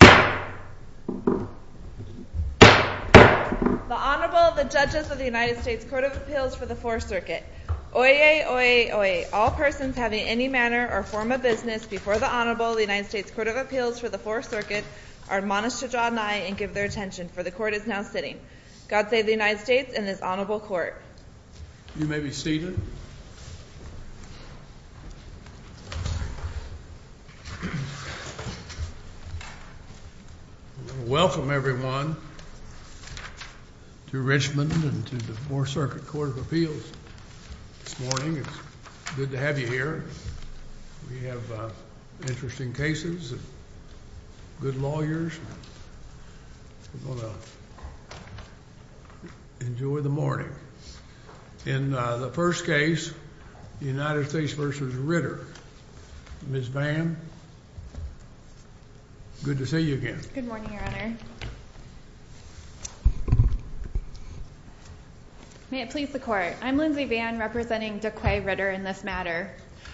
The Honorable, the Judges of the United States Court of Appeals for the Fourth Circuit. Oyez, oyez, oyez. All persons having any manner or form of business before the Honorable, the United States Court of Appeals for the Fourth Circuit, are admonished to draw nigh and give their attention, for the Court is now sitting. God save the United States and this Honorable Court. You may be seated. Welcome, everyone, to Richmond and to the Fourth Circuit Court of Appeals. This morning, it's good to have you here. We have interesting cases and good lawyers. We're going to enjoy the morning. In the first case, United States v. Ritter. Ms. Vann, good to see you again. Good morning, Your Honor. May it please the Court, I'm Lindsay Vann, representing Daqua Ritter in this matter.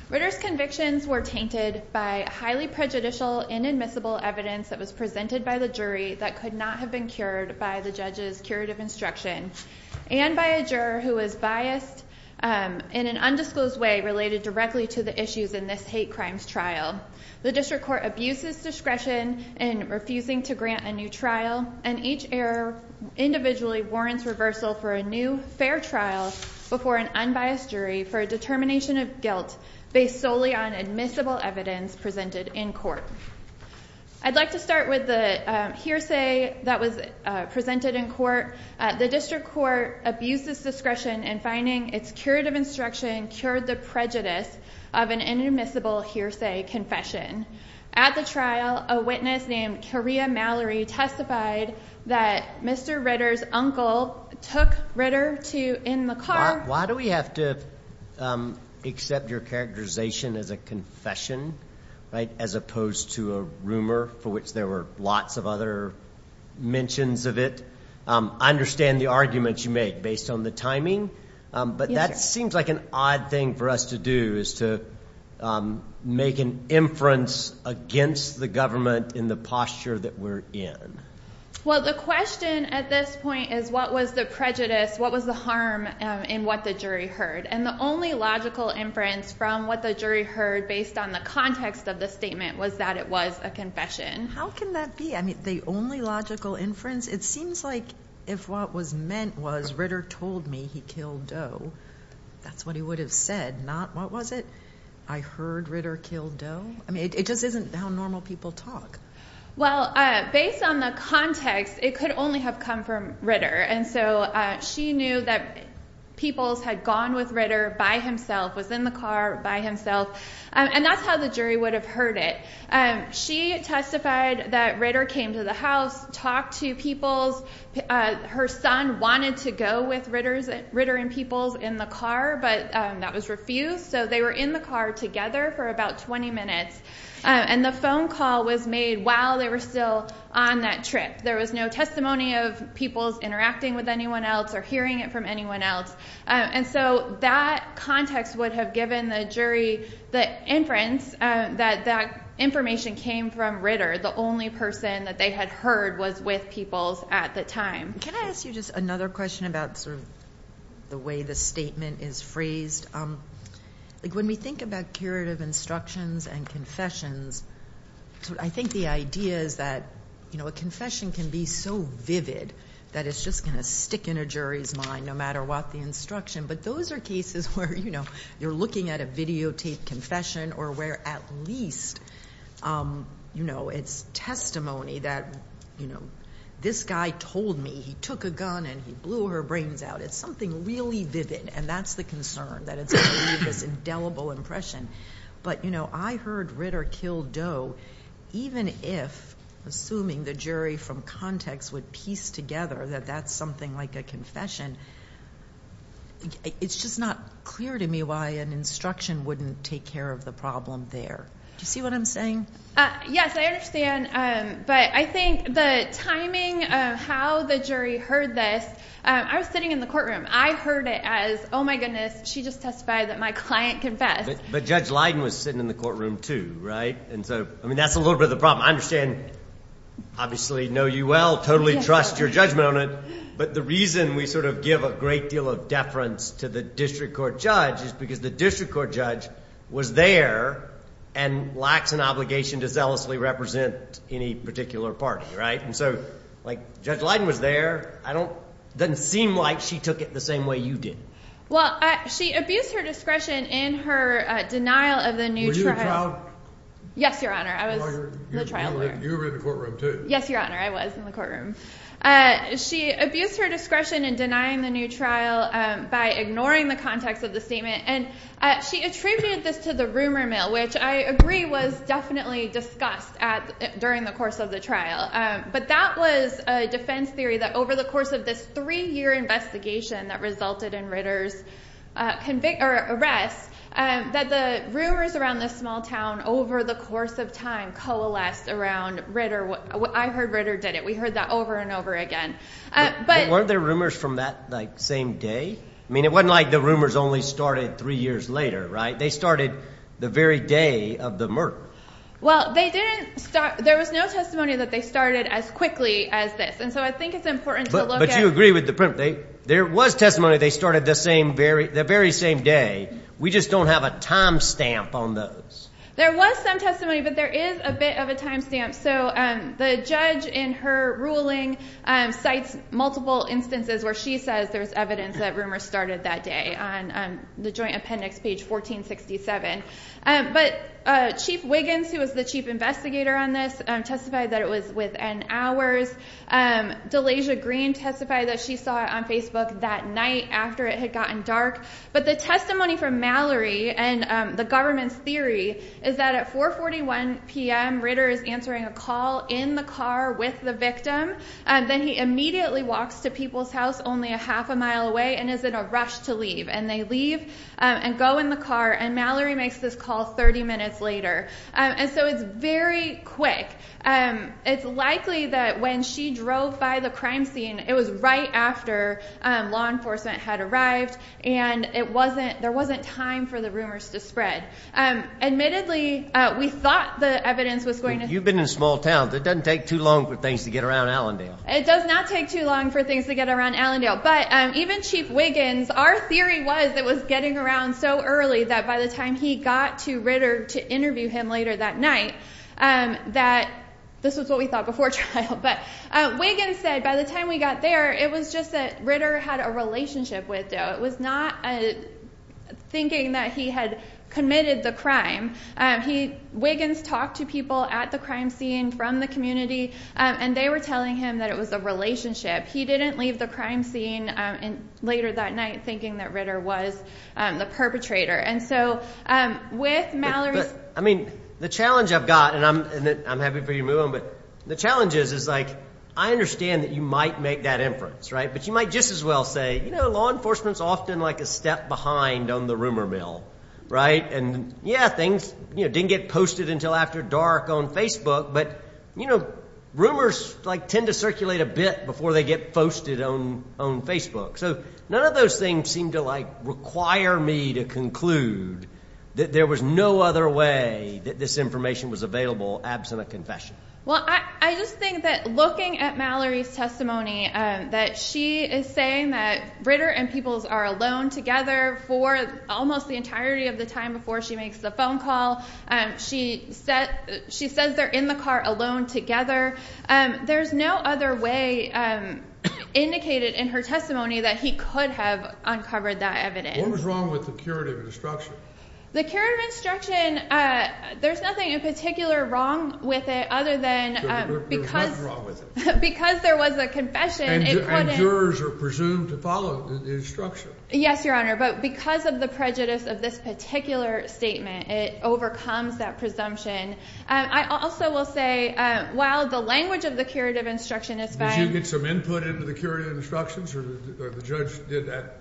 Ritter's convictions were tainted by highly prejudicial, inadmissible evidence that was presented by the jury that could not have been cured by the judge's curative instruction. And by a juror who was biased in an undisclosed way related directly to the issues in this hate crimes trial. The District Court abuses discretion in refusing to grant a new trial, and each error individually warrants reversal for a new, fair trial before an unbiased jury for a determination of guilt based solely on admissible evidence presented in court. I'd like to start with the hearsay that was presented in court. The District Court abuses discretion in finding its curative instruction cured the prejudice of an inadmissible hearsay confession. At the trial, a witness named Coria Mallory testified that Mr. Ritter's uncle took Ritter to in the car. Why do we have to accept your characterization as a confession as opposed to a rumor for which there were lots of other mentions of it? I understand the arguments you make based on the timing, but that seems like an odd thing for us to do is to make an inference against the government in the posture that we're in. Well, the question at this point is what was the prejudice, what was the harm in what the jury heard? And the only logical inference from what the jury heard based on the context of the statement was that it was a confession. How can that be? I mean, the only logical inference, it seems like if what was meant was Ritter told me he killed Doe, that's what he would have said, not what was it? I heard Ritter killed Doe? I mean, it just isn't how normal people talk. Well, based on the context, it could only have come from Ritter. And so she knew that Peoples had gone with Ritter by himself, was in the car by himself, and that's how the jury would have heard it. She testified that Ritter came to the house, talked to Peoples. Her son wanted to go with Ritter and Peoples in the car, but that was refused, so they were in the car together for about 20 minutes. And the phone call was made while they were still on that trip. There was no testimony of Peoples interacting with anyone else or hearing it from anyone else. And so that context would have given the jury the inference that that information came from Ritter. The only person that they had heard was with Peoples at the time. Can I ask you just another question about sort of the way the statement is phrased? When we think about curative instructions and confessions, I think the idea is that a confession can be so vivid that it's just going to stick in a jury's mind no matter what the instruction. But those are cases where you're looking at a videotaped confession or where at least it's testimony that this guy told me he took a gun and he blew her brains out. It's something really vivid, and that's the concern, that it's going to leave this indelible impression. But, you know, I heard Ritter kill Doe even if, assuming the jury from context would piece together that that's something like a confession. It's just not clear to me why an instruction wouldn't take care of the problem there. Do you see what I'm saying? Yes, I understand. But I think the timing of how the jury heard this, I was sitting in the courtroom. I heard it as, oh, my goodness, she just testified that my client confessed. But Judge Leiden was sitting in the courtroom, too, right? And so, I mean, that's a little bit of the problem. I understand, obviously, know you well, totally trust your judgment on it. But the reason we sort of give a great deal of deference to the district court judge is because the district court judge was there and lacks an obligation to zealously represent any particular party, right? And so, like, Judge Leiden was there. It doesn't seem like she took it the same way you did. Well, she abused her discretion in her denial of the new trial. Were you a trial lawyer? Yes, Your Honor. I was the trial lawyer. You were in the courtroom, too. Yes, Your Honor. I was in the courtroom. She abused her discretion in denying the new trial by ignoring the context of the statement. And she attributed this to the rumor mill, which I agree was definitely discussed during the course of the trial. But that was a defense theory that over the course of this three-year investigation that resulted in Ritter's arrest, that the rumors around this small town over the course of time coalesced around Ritter. I heard Ritter did it. We heard that over and over again. But weren't there rumors from that, like, same day? I mean, it wasn't like the rumors only started three years later, right? They started the very day of the murder. Well, they didn't start – there was no testimony that they started as quickly as this. And so I think it's important to look at – But you agree with the – there was testimony they started the same – the very same day. We just don't have a timestamp on those. There was some testimony, but there is a bit of a timestamp. So the judge in her ruling cites multiple instances where she says there's evidence that rumors started that day on the Joint Appendix, page 1467. But Chief Wiggins, who was the chief investigator on this, testified that it was within hours. Delasia Green testified that she saw it on Facebook that night after it had gotten dark. But the testimony from Mallory and the government's theory is that at 4.41 p.m. Ritter is answering a call in the car with the victim. Then he immediately walks to People's House only a half a mile away and is in a rush to leave. And they leave and go in the car, and Mallory makes this call 30 minutes later. And so it's very quick. It's likely that when she drove by the crime scene, it was right after law enforcement had arrived, and it wasn't – there wasn't time for the rumors to spread. Admittedly, we thought the evidence was going to – You've been in a small town. It doesn't take too long for things to get around Allendale. It does not take too long for things to get around Allendale. But even Chief Wiggins, our theory was it was getting around so early that by the time he got to Ritter to interview him later that night, that – this was what we thought before trial – but Wiggins said by the time we got there, it was just that Ritter had a relationship with Doe. It was not thinking that he had committed the crime. Wiggins talked to people at the crime scene from the community, and they were telling him that it was a relationship. He didn't leave the crime scene later that night thinking that Ritter was the perpetrator. And so with Mallory's – But, I mean, the challenge I've got, and I'm happy for you to move on, but the challenge is, is like I understand that you might make that inference, right? But you might just as well say, you know, law enforcement's often like a step behind on the rumor mill, right? And yeah, things didn't get posted until after dark on Facebook, but rumors tend to circulate a bit before they get posted on Facebook. So none of those things seem to require me to conclude that there was no other way that this information was available absent a confession. Well, I just think that looking at Mallory's testimony, that she is saying that Ritter and Peoples are alone together for almost the entirety of the time before she makes the phone call. She said they're in the car alone together. There's no other way indicated in her testimony that he could have uncovered that evidence. What was wrong with the curative instruction? The curative instruction, there's nothing in particular wrong with it other than because – There's nothing wrong with it. Because there was a confession, it – And jurors are presumed to follow the instruction. Yes, Your Honor, but because of the prejudice of this particular statement, it overcomes that presumption. I also will say while the language of the curative instruction is fine – Did you get some input into the curative instructions or the judge did that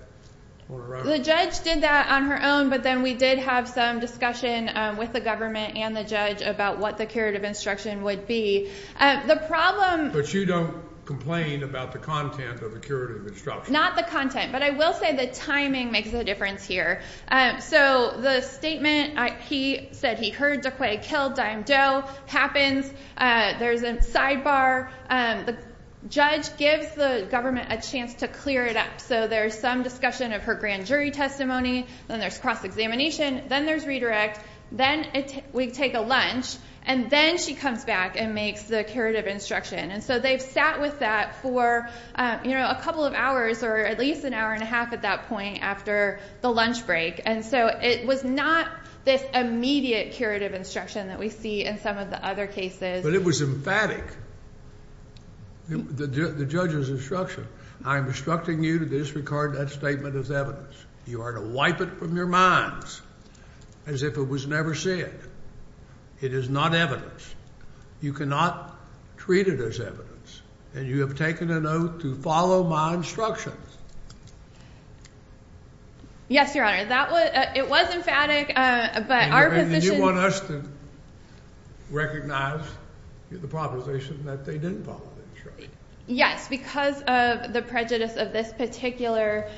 on her own? The judge did that on her own, but then we did have some discussion with the government and the judge about what the curative instruction would be. The problem – But you don't complain about the content of the curative instruction? Not the content, but I will say the timing makes a difference here. So the statement, he said he heard Duquay killed Dime Doe happens. There's a sidebar. The judge gives the government a chance to clear it up. So there's some discussion of her grand jury testimony. Then there's cross-examination. Then there's redirect. Then we take a lunch. And then she comes back and makes the curative instruction. And so they've sat with that for a couple of hours or at least an hour and a half at that point after the lunch break. And so it was not this immediate curative instruction that we see in some of the other cases. But it was emphatic, the judge's instruction. I am instructing you to disregard that statement as evidence. You are to wipe it from your minds as if it was never said. It is not evidence. You cannot treat it as evidence. And you have taken an oath to follow my instructions. Yes, Your Honor. That was – it was emphatic, but our position – You want us to recognize the proposition that they didn't follow the instruction. Yes, because of the prejudice of this particular,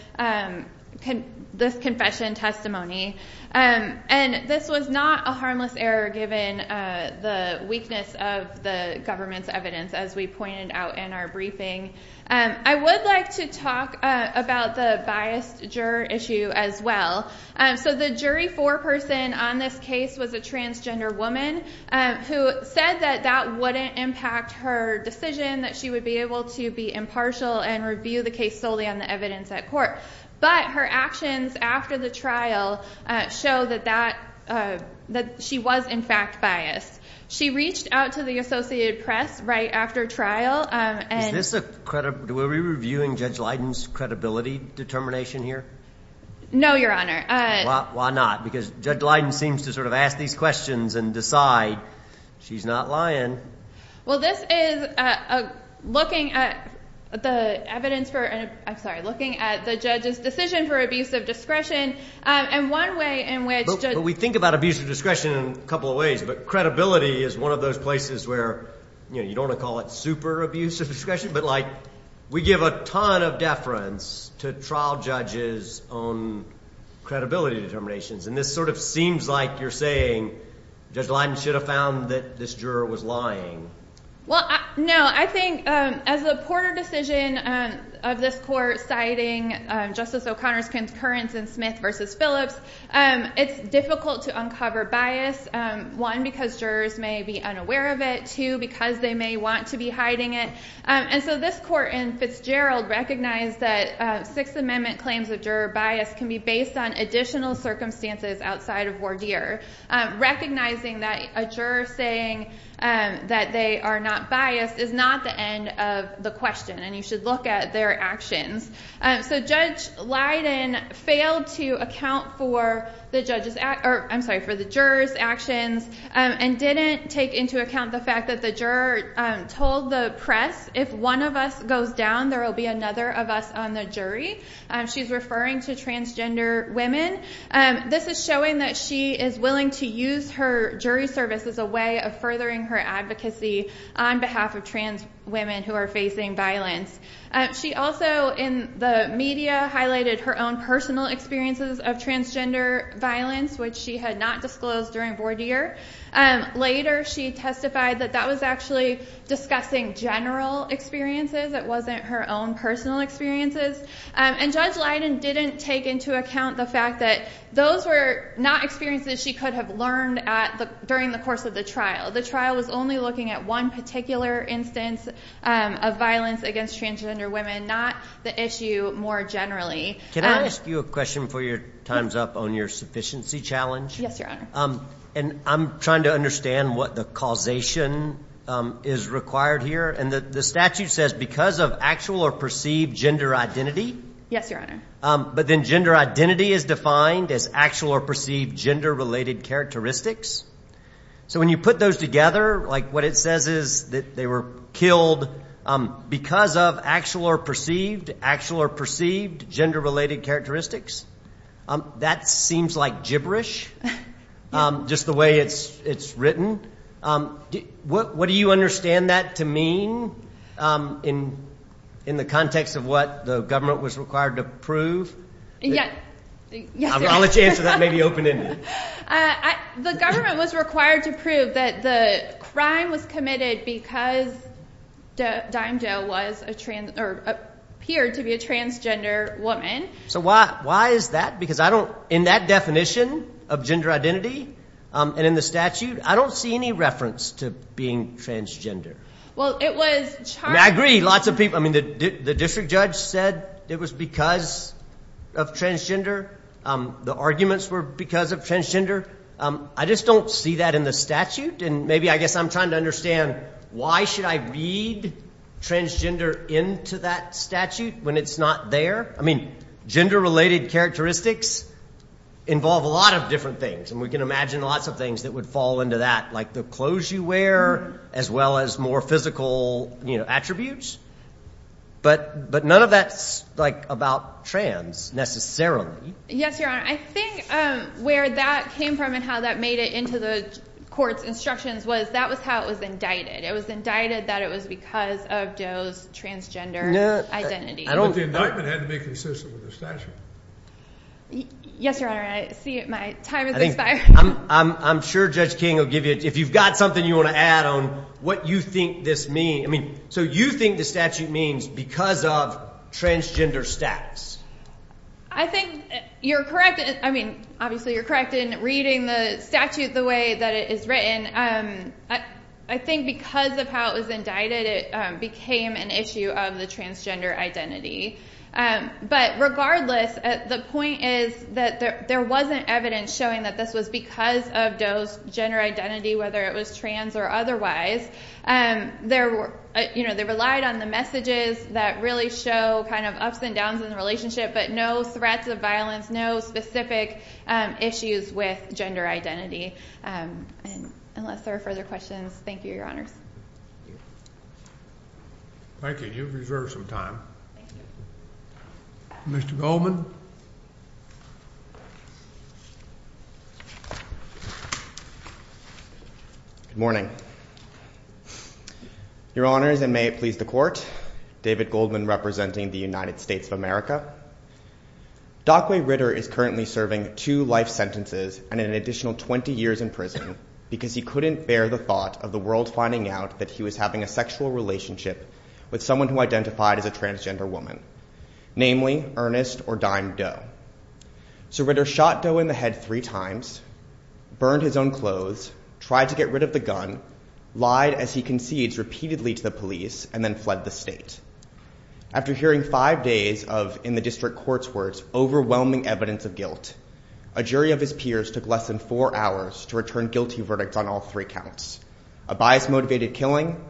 this confession testimony. And this was not a harmless error given the weakness of the government's evidence, as we pointed out in our briefing. I would like to talk about the biased juror issue as well. So the jury foreperson on this case was a transgender woman who said that that wouldn't impact her decision, that she would be able to be impartial and review the case solely on the evidence at court. But her actions after the trial show that that – that she was, in fact, biased. She reached out to the Associated Press right after trial and – Is this a – were we reviewing Judge Leiden's credibility determination here? No, Your Honor. Why not? Because Judge Leiden seems to sort of ask these questions and decide she's not lying. Well, this is looking at the evidence for – I'm sorry, looking at the judge's decision for abuse of discretion. And one way in which – But we think about abuse of discretion in a couple of ways, but credibility is one of those places where, you know, you don't want to call it super abuse of discretion, but, like, we give a ton of deference to trial judges on credibility determinations. And this sort of seems like you're saying Judge Leiden should have found that this juror was lying. Well, no. I think as a Porter decision of this court citing Justice O'Connor's concurrence in Smith v. Phillips, it's difficult to uncover bias, one, because jurors may be unaware of it, two, because they may want to be hiding it. And so this court in Fitzgerald recognized that Sixth Amendment claims of juror bias can be based on additional circumstances outside of voir dire. Recognizing that a juror saying that they are not biased is not the end of the question, and you should look at their actions. So Judge Leiden failed to account for the juror's actions and didn't take into account the fact that the juror told the press, if one of us goes down, there will be another of us on the jury. She's referring to transgender women. This is showing that she is willing to use her jury service as a way of furthering her advocacy on behalf of trans women who are facing violence. She also, in the media, highlighted her own personal experiences of transgender violence, which she had not disclosed during voir dire. Later she testified that that was actually discussing general experiences. It wasn't her own personal experiences. And Judge Leiden didn't take into account the fact that those were not experiences she could have learned during the course of the trial. The trial was only looking at one particular instance of violence against transgender women, not the issue more generally. Can I ask you a question before your time's up on your sufficiency challenge? And I'm trying to understand what the causation is required here. And the statute says because of actual or perceived gender identity. Yes, Your Honor. But then gender identity is defined as actual or perceived gender-related characteristics. So when you put those together, like what it says is that they were killed because of actual or perceived, gender-related characteristics, that seems like gibberish, just the way it's written. What do you understand that to mean in the context of what the government was required to prove? Yes, Your Honor. I'll let you answer that maybe open-ended. The government was required to prove that the crime was committed because Dime Jo appeared to be a transgender woman. So why is that? Because in that definition of gender identity and in the statute, I don't see any reference to being transgender. Well, it was charged. I mean, I agree, lots of people. I mean, the district judge said it was because of transgender. The arguments were because of transgender. I just don't see that in the statute. And maybe I guess I'm trying to understand why should I read transgender into that statute when it's not there? I mean, gender-related characteristics involve a lot of different things. And we can imagine lots of things that would fall into that, like the clothes you wear, as well as more physical attributes. But none of that's, like, about trans necessarily. Yes, Your Honor. I think where that came from and how that made it into the court's instructions was that was how it was indicted. It was indicted that it was because of Jo's transgender identity. But the indictment had to be consistent with the statute. Yes, Your Honor. I see my time has expired. I'm sure Judge King will give you, if you've got something you want to add on what you think this means. I mean, so you think the statute means because of transgender status. I think you're correct. I mean, obviously you're correct in reading the statute the way that it is written. I think because of how it was indicted, it became an issue of the transgender identity. But regardless, the point is that there wasn't evidence showing that this was because of Jo's gender identity, whether it was trans or otherwise. They relied on the messages that really show kind of ups and downs in the relationship, but no threats of violence, no specific issues with gender identity. And unless there are further questions, thank you, Your Honors. Thank you. Thank you. You've reserved some time. Mr. Goldman. Good morning. Your Honors, and may it please the Court, David Goldman representing the United States of America. Dockway Ritter is currently serving two life sentences and an additional 20 years in prison because he couldn't bear the thought of the world finding out that he was having a sexual relationship with someone who identified as a transgender woman, namely Ernest or Dime Doe. So Ritter shot Doe in the head three times, burned his own clothes, tried to get rid of the gun, lied as he concedes repeatedly to the police, and then fled the state. After hearing five days of, in the district court's words, overwhelming evidence of guilt, a jury of his peers took less than four hours to return guilty verdicts on all three counts, a bias-motivated killing,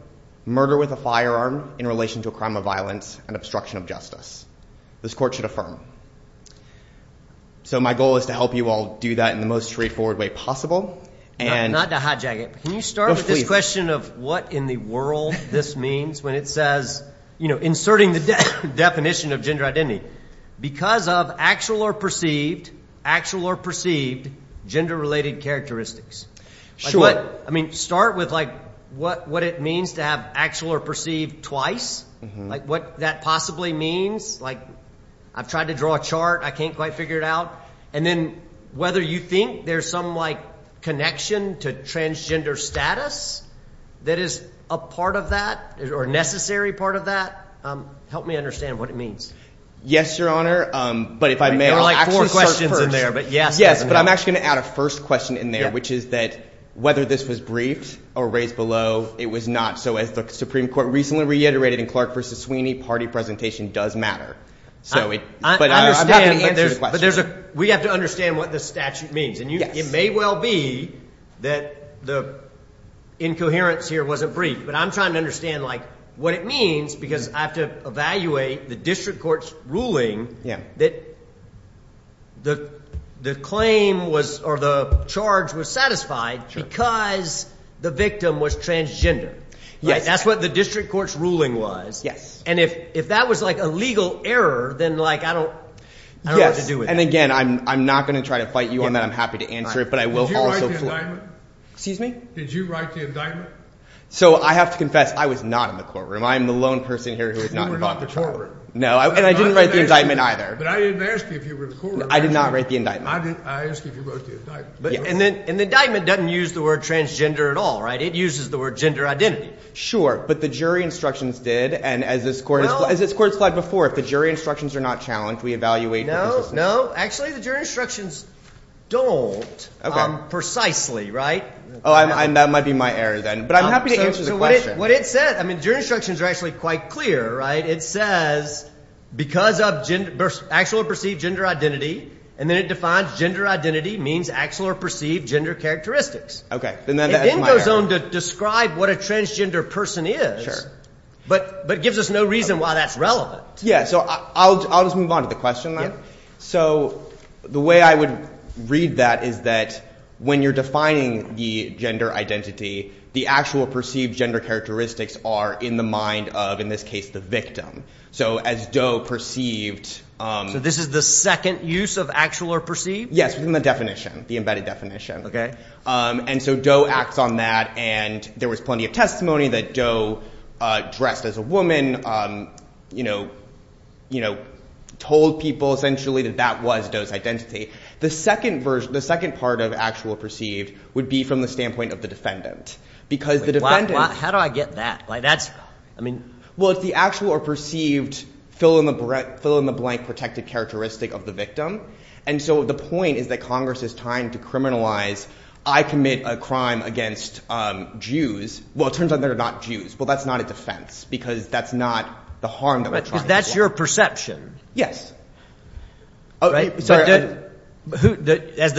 murder with a firearm in relation to a crime of violence, and obstruction of justice. This court should affirm. So my goal is to help you all do that in the most straightforward way possible. Not to hijack it, but can you start with this question of what in the world this means when it says, you know, inserting the definition of gender identity. Because of actual or perceived gender-related characteristics. Sure. I mean, start with, like, what it means to have actual or perceived twice. Like, what that possibly means. Like, I've tried to draw a chart. I can't quite figure it out. And then whether you think there's some, like, connection to transgender status that is a part of that or a necessary part of that. Help me understand what it means. Yes, Your Honor. But if I may, I'll actually start first. There are, like, four questions in there, but yes. But I'm actually going to add a first question in there, which is that whether this was briefed or raised below, it was not. So as the Supreme Court recently reiterated in Clark v. Sweeney, party presentation does matter. But I'm happy to answer the question. We have to understand what the statute means. And it may well be that the incoherence here wasn't briefed, but I'm trying to understand, like, what it means because I have to evaluate the district court's ruling that the claim was or the charge was satisfied because the victim was transgender. Yes. That's what the district court's ruling was. Yes. And if that was, like, a legal error, then, like, I don't know what to do with that. And, again, I'm not going to try to fight you on that. I'm happy to answer it. But I will also – Did you write the indictment? Excuse me? Did you write the indictment? So I have to confess, I was not in the courtroom. I am the lone person here who was not involved in the courtroom. You were not in the courtroom. No. And I didn't write the indictment either. But I didn't ask you if you were in the courtroom. I did not write the indictment. I asked if you wrote the indictment. And the indictment doesn't use the word transgender at all, right? It uses the word gender identity. Sure. But the jury instructions did. And as this court has flagged before, if the jury instructions are not challenged, we evaluate. No, no. Actually, the jury instructions don't precisely, right? Oh, and that might be my error then. But I'm happy to answer the question. So what it says – I mean, jury instructions are actually quite clear, right? It says because of actual or perceived gender identity. And then it defines gender identity means actual or perceived gender characteristics. Okay. Then that's my error. It then goes on to describe what a transgender person is. But it gives us no reason why that's relevant. Yeah. So I'll just move on to the question then. Yeah. So the way I would read that is that when you're defining the gender identity, the actual perceived gender characteristics are in the mind of, in this case, the victim. So as Doe perceived – So this is the second use of actual or perceived? Yes, within the definition, the embedded definition. And so Doe acts on that, and there was plenty of testimony that Doe dressed as a woman, told people essentially that that was Doe's identity. The second part of actual or perceived would be from the standpoint of the defendant because the defendant – How do I get that? I mean – Well, it's the actual or perceived fill-in-the-blank protected characteristic of the victim. And so the point is that Congress is trying to criminalize I commit a crime against Jews. Well, it turns out they're not Jews. Well, that's not a defense because that's not the harm that we're trying to do. Because that's your perception. Yes. As the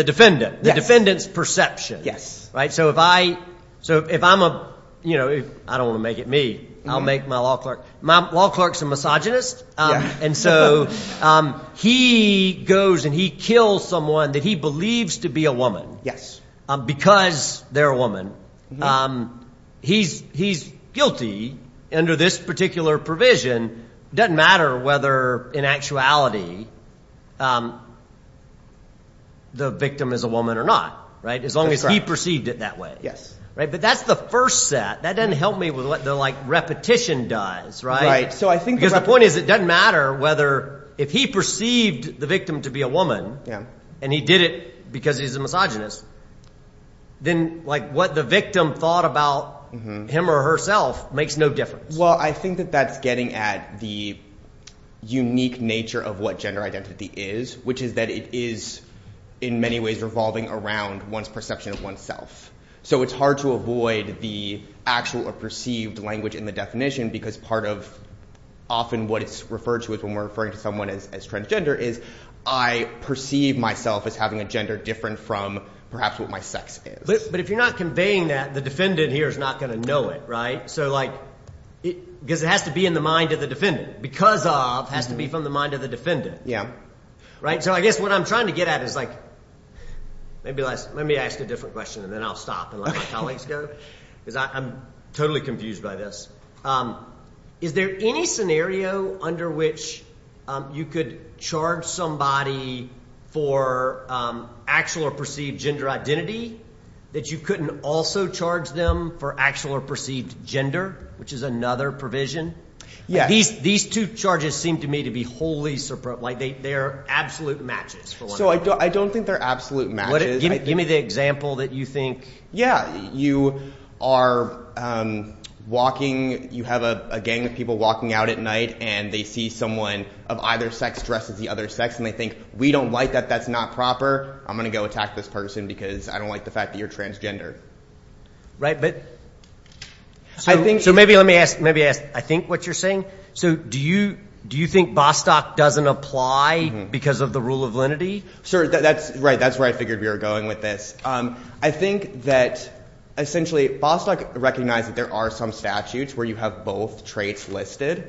defendant, the defendant's perception. So if I'm a – I don't want to make it me. I'll make my law clerk. My law clerk's a misogynist, and so he goes and he kills someone that he believes to be a woman because they're a woman. He's guilty under this particular provision. It doesn't matter whether in actuality the victim is a woman or not as long as he perceived it that way. Yes. But that's the first set. That doesn't help me with what the repetition does. Right. Because the point is it doesn't matter whether – if he perceived the victim to be a woman and he did it because he's a misogynist, then what the victim thought about him or herself makes no difference. Well, I think that that's getting at the unique nature of what gender identity is, which is that it is in many ways revolving around one's perception of oneself. So it's hard to avoid the actual or perceived language in the definition because part of often what it's referred to is when we're referring to someone as transgender is I perceive myself as having a gender different from perhaps what my sex is. But if you're not conveying that, the defendant here is not going to know it, right? So like – because it has to be in the mind of the defendant. Because of has to be from the mind of the defendant. Yeah. So I guess what I'm trying to get at is like – let me ask a different question, and then I'll stop and let my colleagues go because I'm totally confused by this. Is there any scenario under which you could charge somebody for actual or perceived gender identity that you couldn't also charge them for actual or perceived gender, which is another provision? Yeah. These two charges seem to me to be wholly – like they are absolute matches for one another. So I don't think they're absolute matches. Give me the example that you think – Yeah. You are walking – you have a gang of people walking out at night, and they see someone of either sex dressed as the other sex, and they think, we don't like that. That's not proper. I'm going to go attack this person because I don't like the fact that you're transgender. Right, but – So maybe let me ask – I think what you're saying. So do you think Bostock doesn't apply because of the rule of lenity? Sure. That's right. That's where I figured we were going with this. I think that essentially Bostock recognized that there are some statutes where you have both traits listed,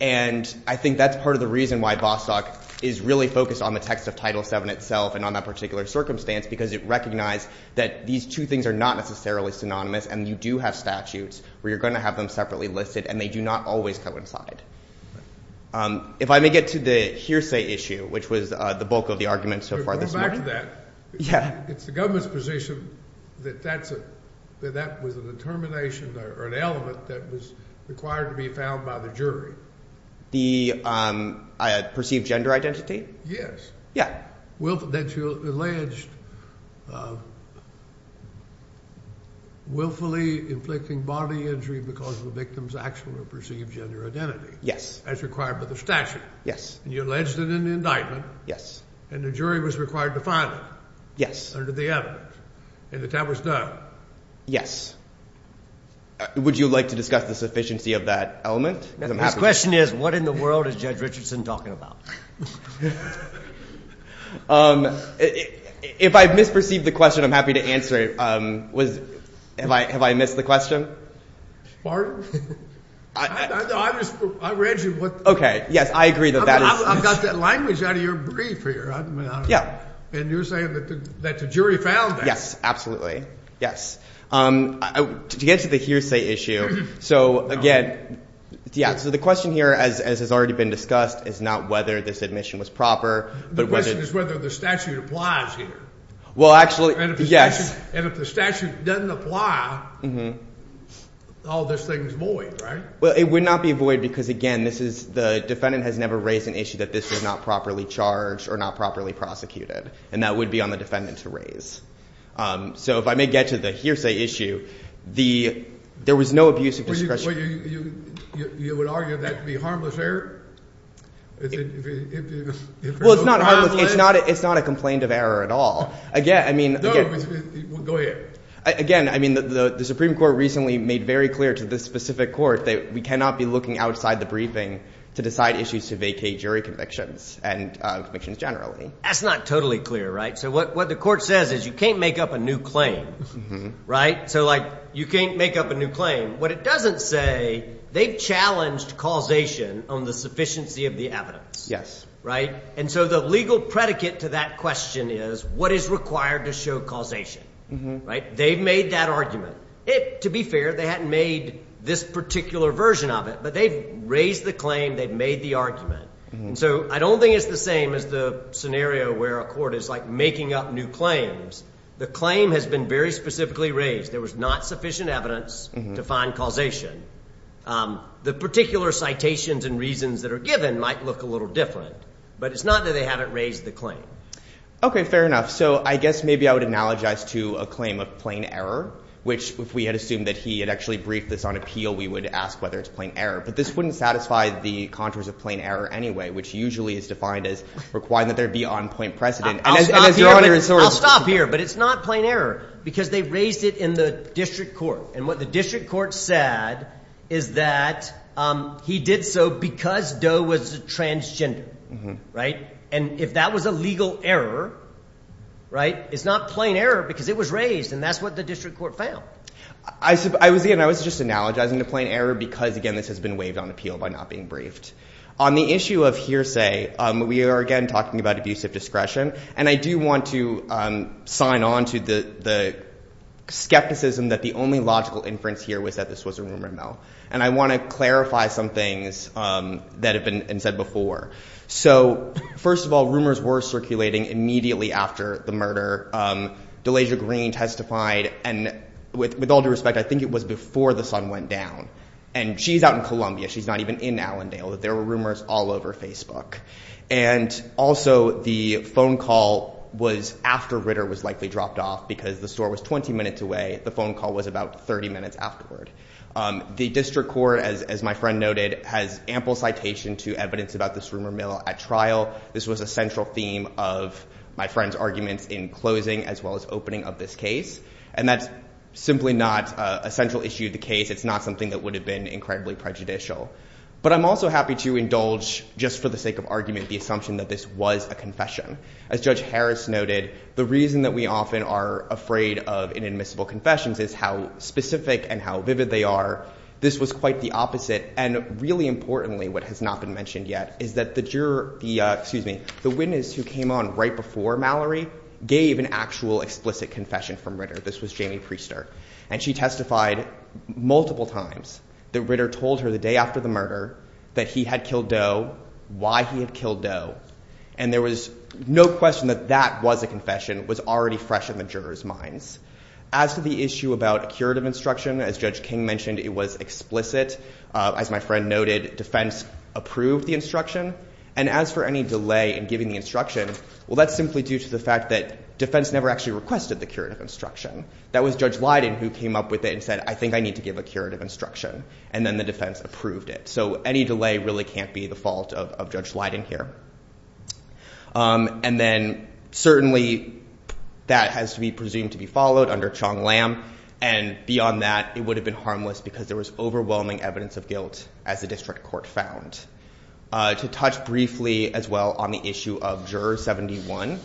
and I think that's part of the reason why Bostock is really focused on the text of Title VII itself and on that particular circumstance because it recognized that these two things are not necessarily synonymous, and you do have statutes where you're going to have them separately listed, and they do not always coincide. If I may get to the hearsay issue, which was the bulk of the argument so far this morning. Going back to that. Yeah. It's the government's position that that was a determination or an element that was required to be found by the jury. The perceived gender identity? Yes. Yeah. That you alleged willfully inflicting body injury because of the victim's actual or perceived gender identity. Yes. As required by the statute. Yes. And you alleged it in the indictment. Yes. And the jury was required to find it. Yes. Under the evidence, and that that was done. Yes. Would you like to discuss the sufficiency of that element? The question is, what in the world is Judge Richardson talking about? If I've misperceived the question, I'm happy to answer it. Have I missed the question? Pardon? I read you. Okay. Yes, I agree that that is. I've got that language out of your brief here. Yeah. And you're saying that the jury found that. Yes, absolutely. Yes. To get to the hearsay issue. So, again, yeah, so the question here, as has already been discussed, is not whether this admission was proper. The question is whether the statute applies here. Well, actually, yes. And if the statute doesn't apply, all this thing is void, right? Well, it would not be void because, again, this is the defendant has never raised an issue that this was not properly charged or not properly prosecuted. And that would be on the defendant to raise. So if I may get to the hearsay issue, there was no abuse of discretion. You would argue that to be harmless error? Well, it's not harmless. It's not a complaint of error at all. Again, I mean. Go ahead. Again, I mean, the Supreme Court recently made very clear to this specific court that we cannot be looking outside the briefing to decide issues to vacate jury convictions and convictions generally. That's not totally clear, right? So what the court says is you can't make up a new claim, right? So, like, you can't make up a new claim. What it doesn't say, they've challenged causation on the sufficiency of the evidence. Yes. Right? And so the legal predicate to that question is what is required to show causation, right? They've made that argument. To be fair, they hadn't made this particular version of it, but they've raised the claim. They've made the argument. And so I don't think it's the same as the scenario where a court is, like, making up new claims. The claim has been very specifically raised. There was not sufficient evidence to find causation. The particular citations and reasons that are given might look a little different, but it's not that they haven't raised the claim. Okay, fair enough. So I guess maybe I would analogize to a claim of plain error, which if we had assumed that he had actually briefed this on appeal, we would ask whether it's plain error. But this wouldn't satisfy the contours of plain error anyway, which usually is defined as requiring that there be on-point precedent. I'll stop here, but it's not plain error because they raised it in the district court. And what the district court said is that he did so because Doe was a transgender, right? And if that was a legal error, right, it's not plain error because it was raised, and that's what the district court found. I was just analogizing to plain error because, again, this has been waived on appeal by not being briefed. On the issue of hearsay, we are again talking about abusive discretion, and I do want to sign on to the skepticism that the only logical inference here was that this was a rumor mill. And I want to clarify some things that have been said before. So, first of all, rumors were circulating immediately after the murder. Delasia Green testified, and with all due respect, I think it was before the sun went down. And she's out in Columbia. She's not even in Allendale. There were rumors all over Facebook. And also, the phone call was after Ritter was likely dropped off because the store was 20 minutes away. The phone call was about 30 minutes afterward. The district court, as my friend noted, has ample citation to evidence about this rumor mill at trial. This was a central theme of my friend's arguments in closing as well as opening of this case. And that's simply not a central issue of the case. It's not something that would have been incredibly prejudicial. But I'm also happy to indulge, just for the sake of argument, the assumption that this was a confession. As Judge Harris noted, the reason that we often are afraid of inadmissible confessions is how specific and how vivid they are. This was quite the opposite. And really importantly, what has not been mentioned yet, is that the juror, excuse me, the witness who came on right before Mallory gave an actual explicit confession from Ritter. This was Jamie Priester. And she testified multiple times that Ritter told her the day after the murder that he had killed Doe, why he had killed Doe. And there was no question that that was a confession. It was already fresh in the juror's minds. As to the issue about a curative instruction, as Judge King mentioned, it was explicit. As my friend noted, defense approved the instruction. And as for any delay in giving the instruction, well, that's simply due to the fact that defense never actually requested the curative instruction. That was Judge Leiden who came up with it and said, I think I need to give a curative instruction. And then the defense approved it. So any delay really can't be the fault of Judge Leiden here. And then certainly that has to be presumed to be followed under Chong Lam. And beyond that, it would have been harmless because there was overwhelming evidence of guilt as the district court found. To touch briefly as well on the issue of Juror 71.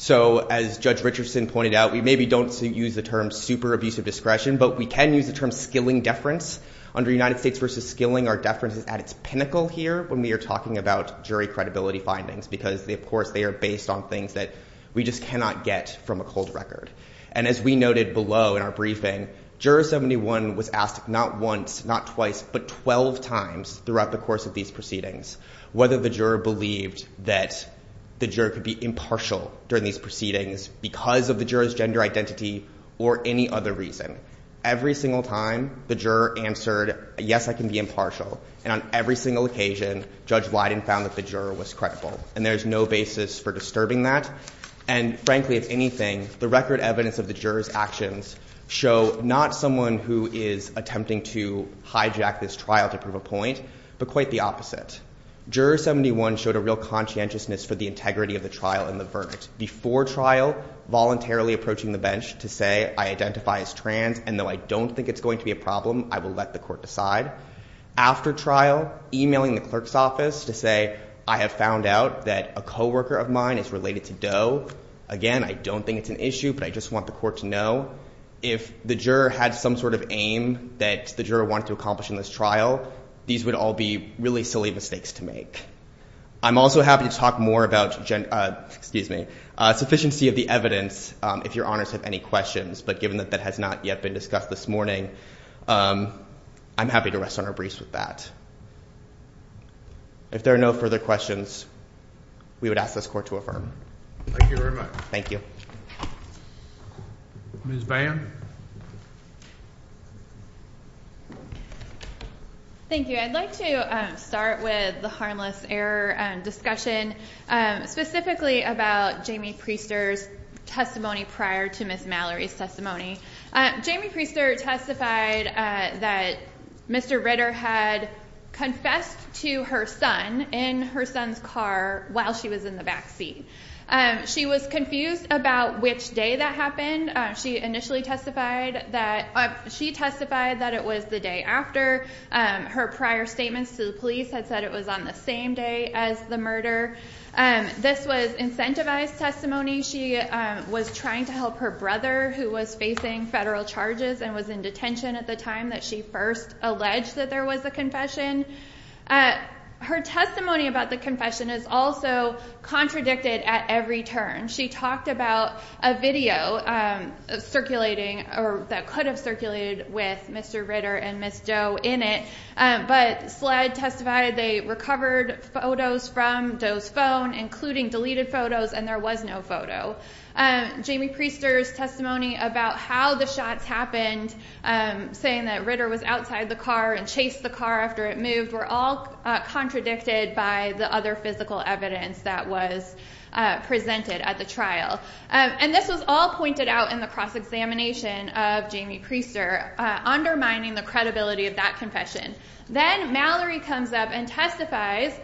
So as Judge Richardson pointed out, we maybe don't use the term super abusive discretion, but we can use the term skilling deference. Under United States v. Skilling, our deference is at its pinnacle here when we are talking about jury credibility findings. Because, of course, they are based on things that we just cannot get from a cold record. And as we noted below in our briefing, Juror 71 was asked not once, not twice, but 12 times throughout the course of these proceedings whether the juror believed that the juror could be impartial during these proceedings because of the juror's gender identity or any other reason. Every single time, the juror answered, yes, I can be impartial. And on every single occasion, Judge Leiden found that the juror was credible. And there is no basis for disturbing that. And frankly, if anything, the record evidence of the juror's actions show not someone who is attempting to hijack this trial to prove a point, but quite the opposite. Juror 71 showed a real conscientiousness for the integrity of the trial and the verdict. Before trial, voluntarily approaching the bench to say, I identify as trans, and though I don't think it's going to be a problem, I will let the court decide. After trial, emailing the clerk's office to say, I have found out that a coworker of mine is related to Doe. Again, I don't think it's an issue, but I just want the court to know. If the juror had some sort of aim that the juror wanted to accomplish in this trial, these would all be really silly mistakes to make. I'm also happy to talk more about sufficiency of the evidence, if your honors have any questions. But given that that has not yet been discussed this morning, I'm happy to rest on our briefs with that. If there are no further questions, we would ask this court to affirm. Thank you very much. Thank you. Ms. Vann? Thank you. I'd like to start with the harmless error discussion, specifically about Jamie Priester's testimony prior to Ms. Mallory's testimony. Jamie Priester testified that Mr. Ritter had confessed to her son in her son's car while she was in the backseat. She was confused about which day that happened. She testified that it was the day after. Her prior statements to the police had said it was on the same day as the murder. This was incentivized testimony. She was trying to help her brother, who was facing federal charges and was in detention at the time that she first alleged that there was a confession. Her testimony about the confession is also contradicted at every turn. She talked about a video circulating or that could have circulated with Mr. Ritter and Ms. Doe in it. But SLED testified they recovered photos from Doe's phone, including deleted photos, and there was no photo. Jamie Priester's testimony about how the shots happened, saying that Ritter was outside the car and chased the car after it moved, were all contradicted by the other physical evidence that was presented at the trial. And this was all pointed out in the cross-examination of Jamie Priester, undermining the credibility of that confession. Then Mallory comes up and testifies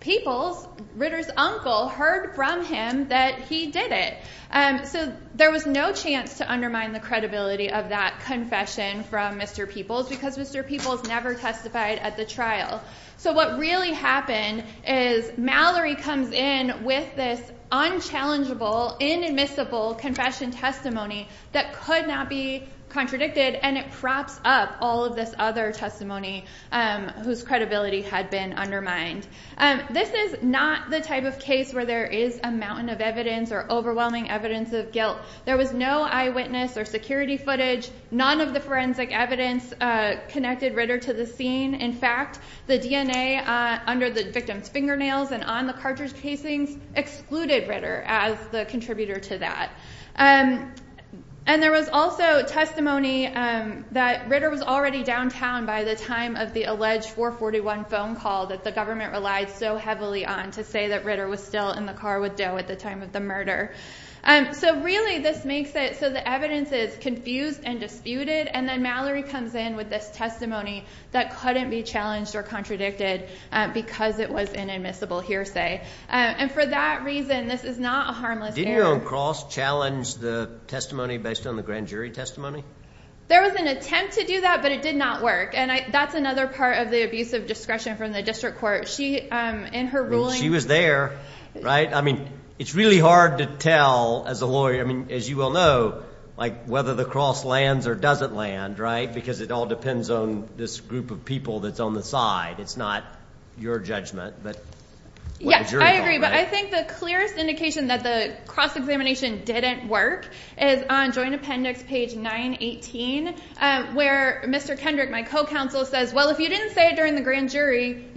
Peoples, Ritter's uncle, heard from him that he did it. So there was no chance to undermine the credibility of that confession from Mr. Peoples because Mr. Peoples never testified at the trial. So what really happened is Mallory comes in with this unchallengeable, inadmissible confession testimony that could not be contradicted, and it props up all of this other testimony whose credibility had been undermined. This is not the type of case where there is a mountain of evidence or overwhelming evidence of guilt. There was no eyewitness or security footage. None of the forensic evidence connected Ritter to the scene. In fact, the DNA under the victim's fingernails and on the cartridge casings excluded Ritter as the contributor to that. And there was also testimony that Ritter was already downtown by the time of the alleged 441 phone call that the government relied so heavily on to say that Ritter was still in the car with Doe at the time of the murder. So really this makes it so the evidence is confused and disputed, and then Mallory comes in with this testimony that couldn't be challenged or contradicted because it was an inadmissible hearsay. And for that reason, this is not a harmless error. Didn't your own cross challenge the testimony based on the grand jury testimony? There was an attempt to do that, but it did not work. And that's another part of the abuse of discretion from the district court. She was there, right? I mean, it's really hard to tell as a lawyer. I mean, as you well know, like whether the cross lands or doesn't land, right, because it all depends on this group of people that's on the side. It's not your judgment, but what the jury thought, right? I agree, but I think the clearest indication that the cross examination didn't work is on joint appendix page 918 where Mr. Kendrick, my co-counsel, says, well, if you didn't say it during the grand jury,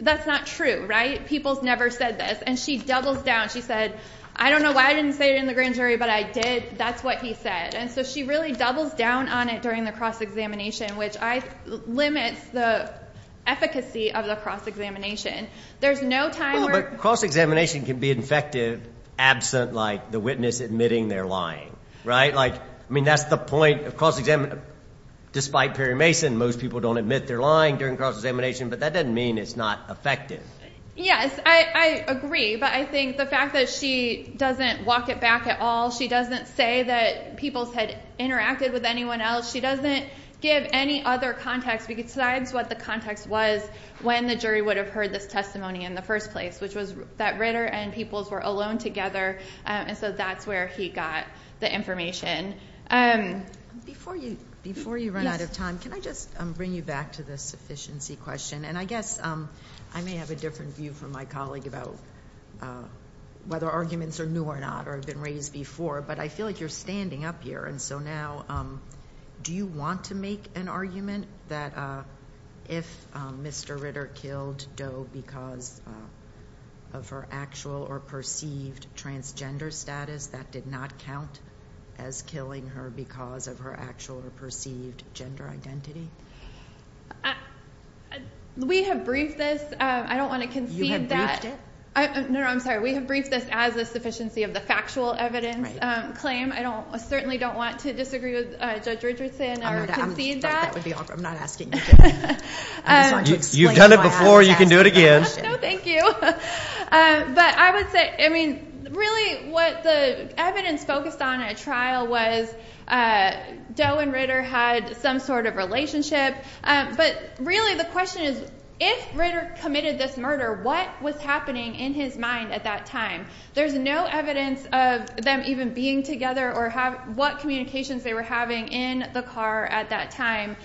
that's not true, right? People's never said this. And she doubles down. She said, I don't know why I didn't say it in the grand jury, but I did. That's what he said. And so she really doubles down on it during the cross examination, which limits the efficacy of the cross examination. Well, but cross examination can be effective absent, like, the witness admitting they're lying, right? I mean, that's the point of cross examination. Despite Perry Mason, most people don't admit they're lying during cross examination, but that doesn't mean it's not effective. Yes, I agree, but I think the fact that she doesn't walk it back at all, she doesn't say that people had interacted with anyone else. She doesn't give any other context. She describes what the context was when the jury would have heard this testimony in the first place, which was that Ritter and Peoples were alone together, and so that's where he got the information. Before you run out of time, can I just bring you back to the sufficiency question? And I guess I may have a different view from my colleague about whether arguments are new or not or have been raised before, but I feel like you're standing up here, and so now do you want to make an argument that if Mr. Ritter killed Doe because of her actual or perceived transgender status, that did not count as killing her because of her actual or perceived gender identity? We have briefed this. I don't want to concede that. You have briefed it? No, no, I'm sorry. We have briefed this as a sufficiency of the factual evidence claim. I certainly don't want to disagree with Judge Richardson or concede that. I'm not asking you to. You've done it before. You can do it again. No, thank you. But I would say really what the evidence focused on at trial was Doe and Ritter had some sort of relationship, but really the question is if Ritter committed this murder, what was happening in his mind at that time? There's no evidence of them even being together or what communications they were having in the car at that time.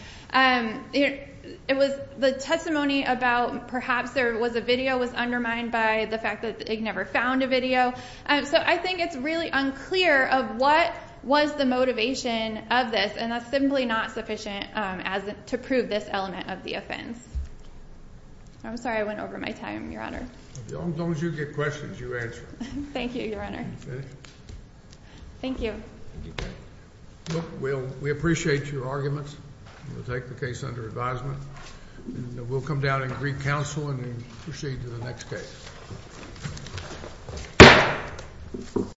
The testimony about perhaps there was a video was undermined by the fact that they never found a video. So I think it's really unclear of what was the motivation of this, and that's simply not sufficient to prove this element of the offense. I'm sorry I went over my time, Your Honor. As long as you get questions, you answer them. Thank you, Your Honor. Thank you. We appreciate your arguments. We'll take the case under advisement, and we'll come down and read counsel and proceed to the next case.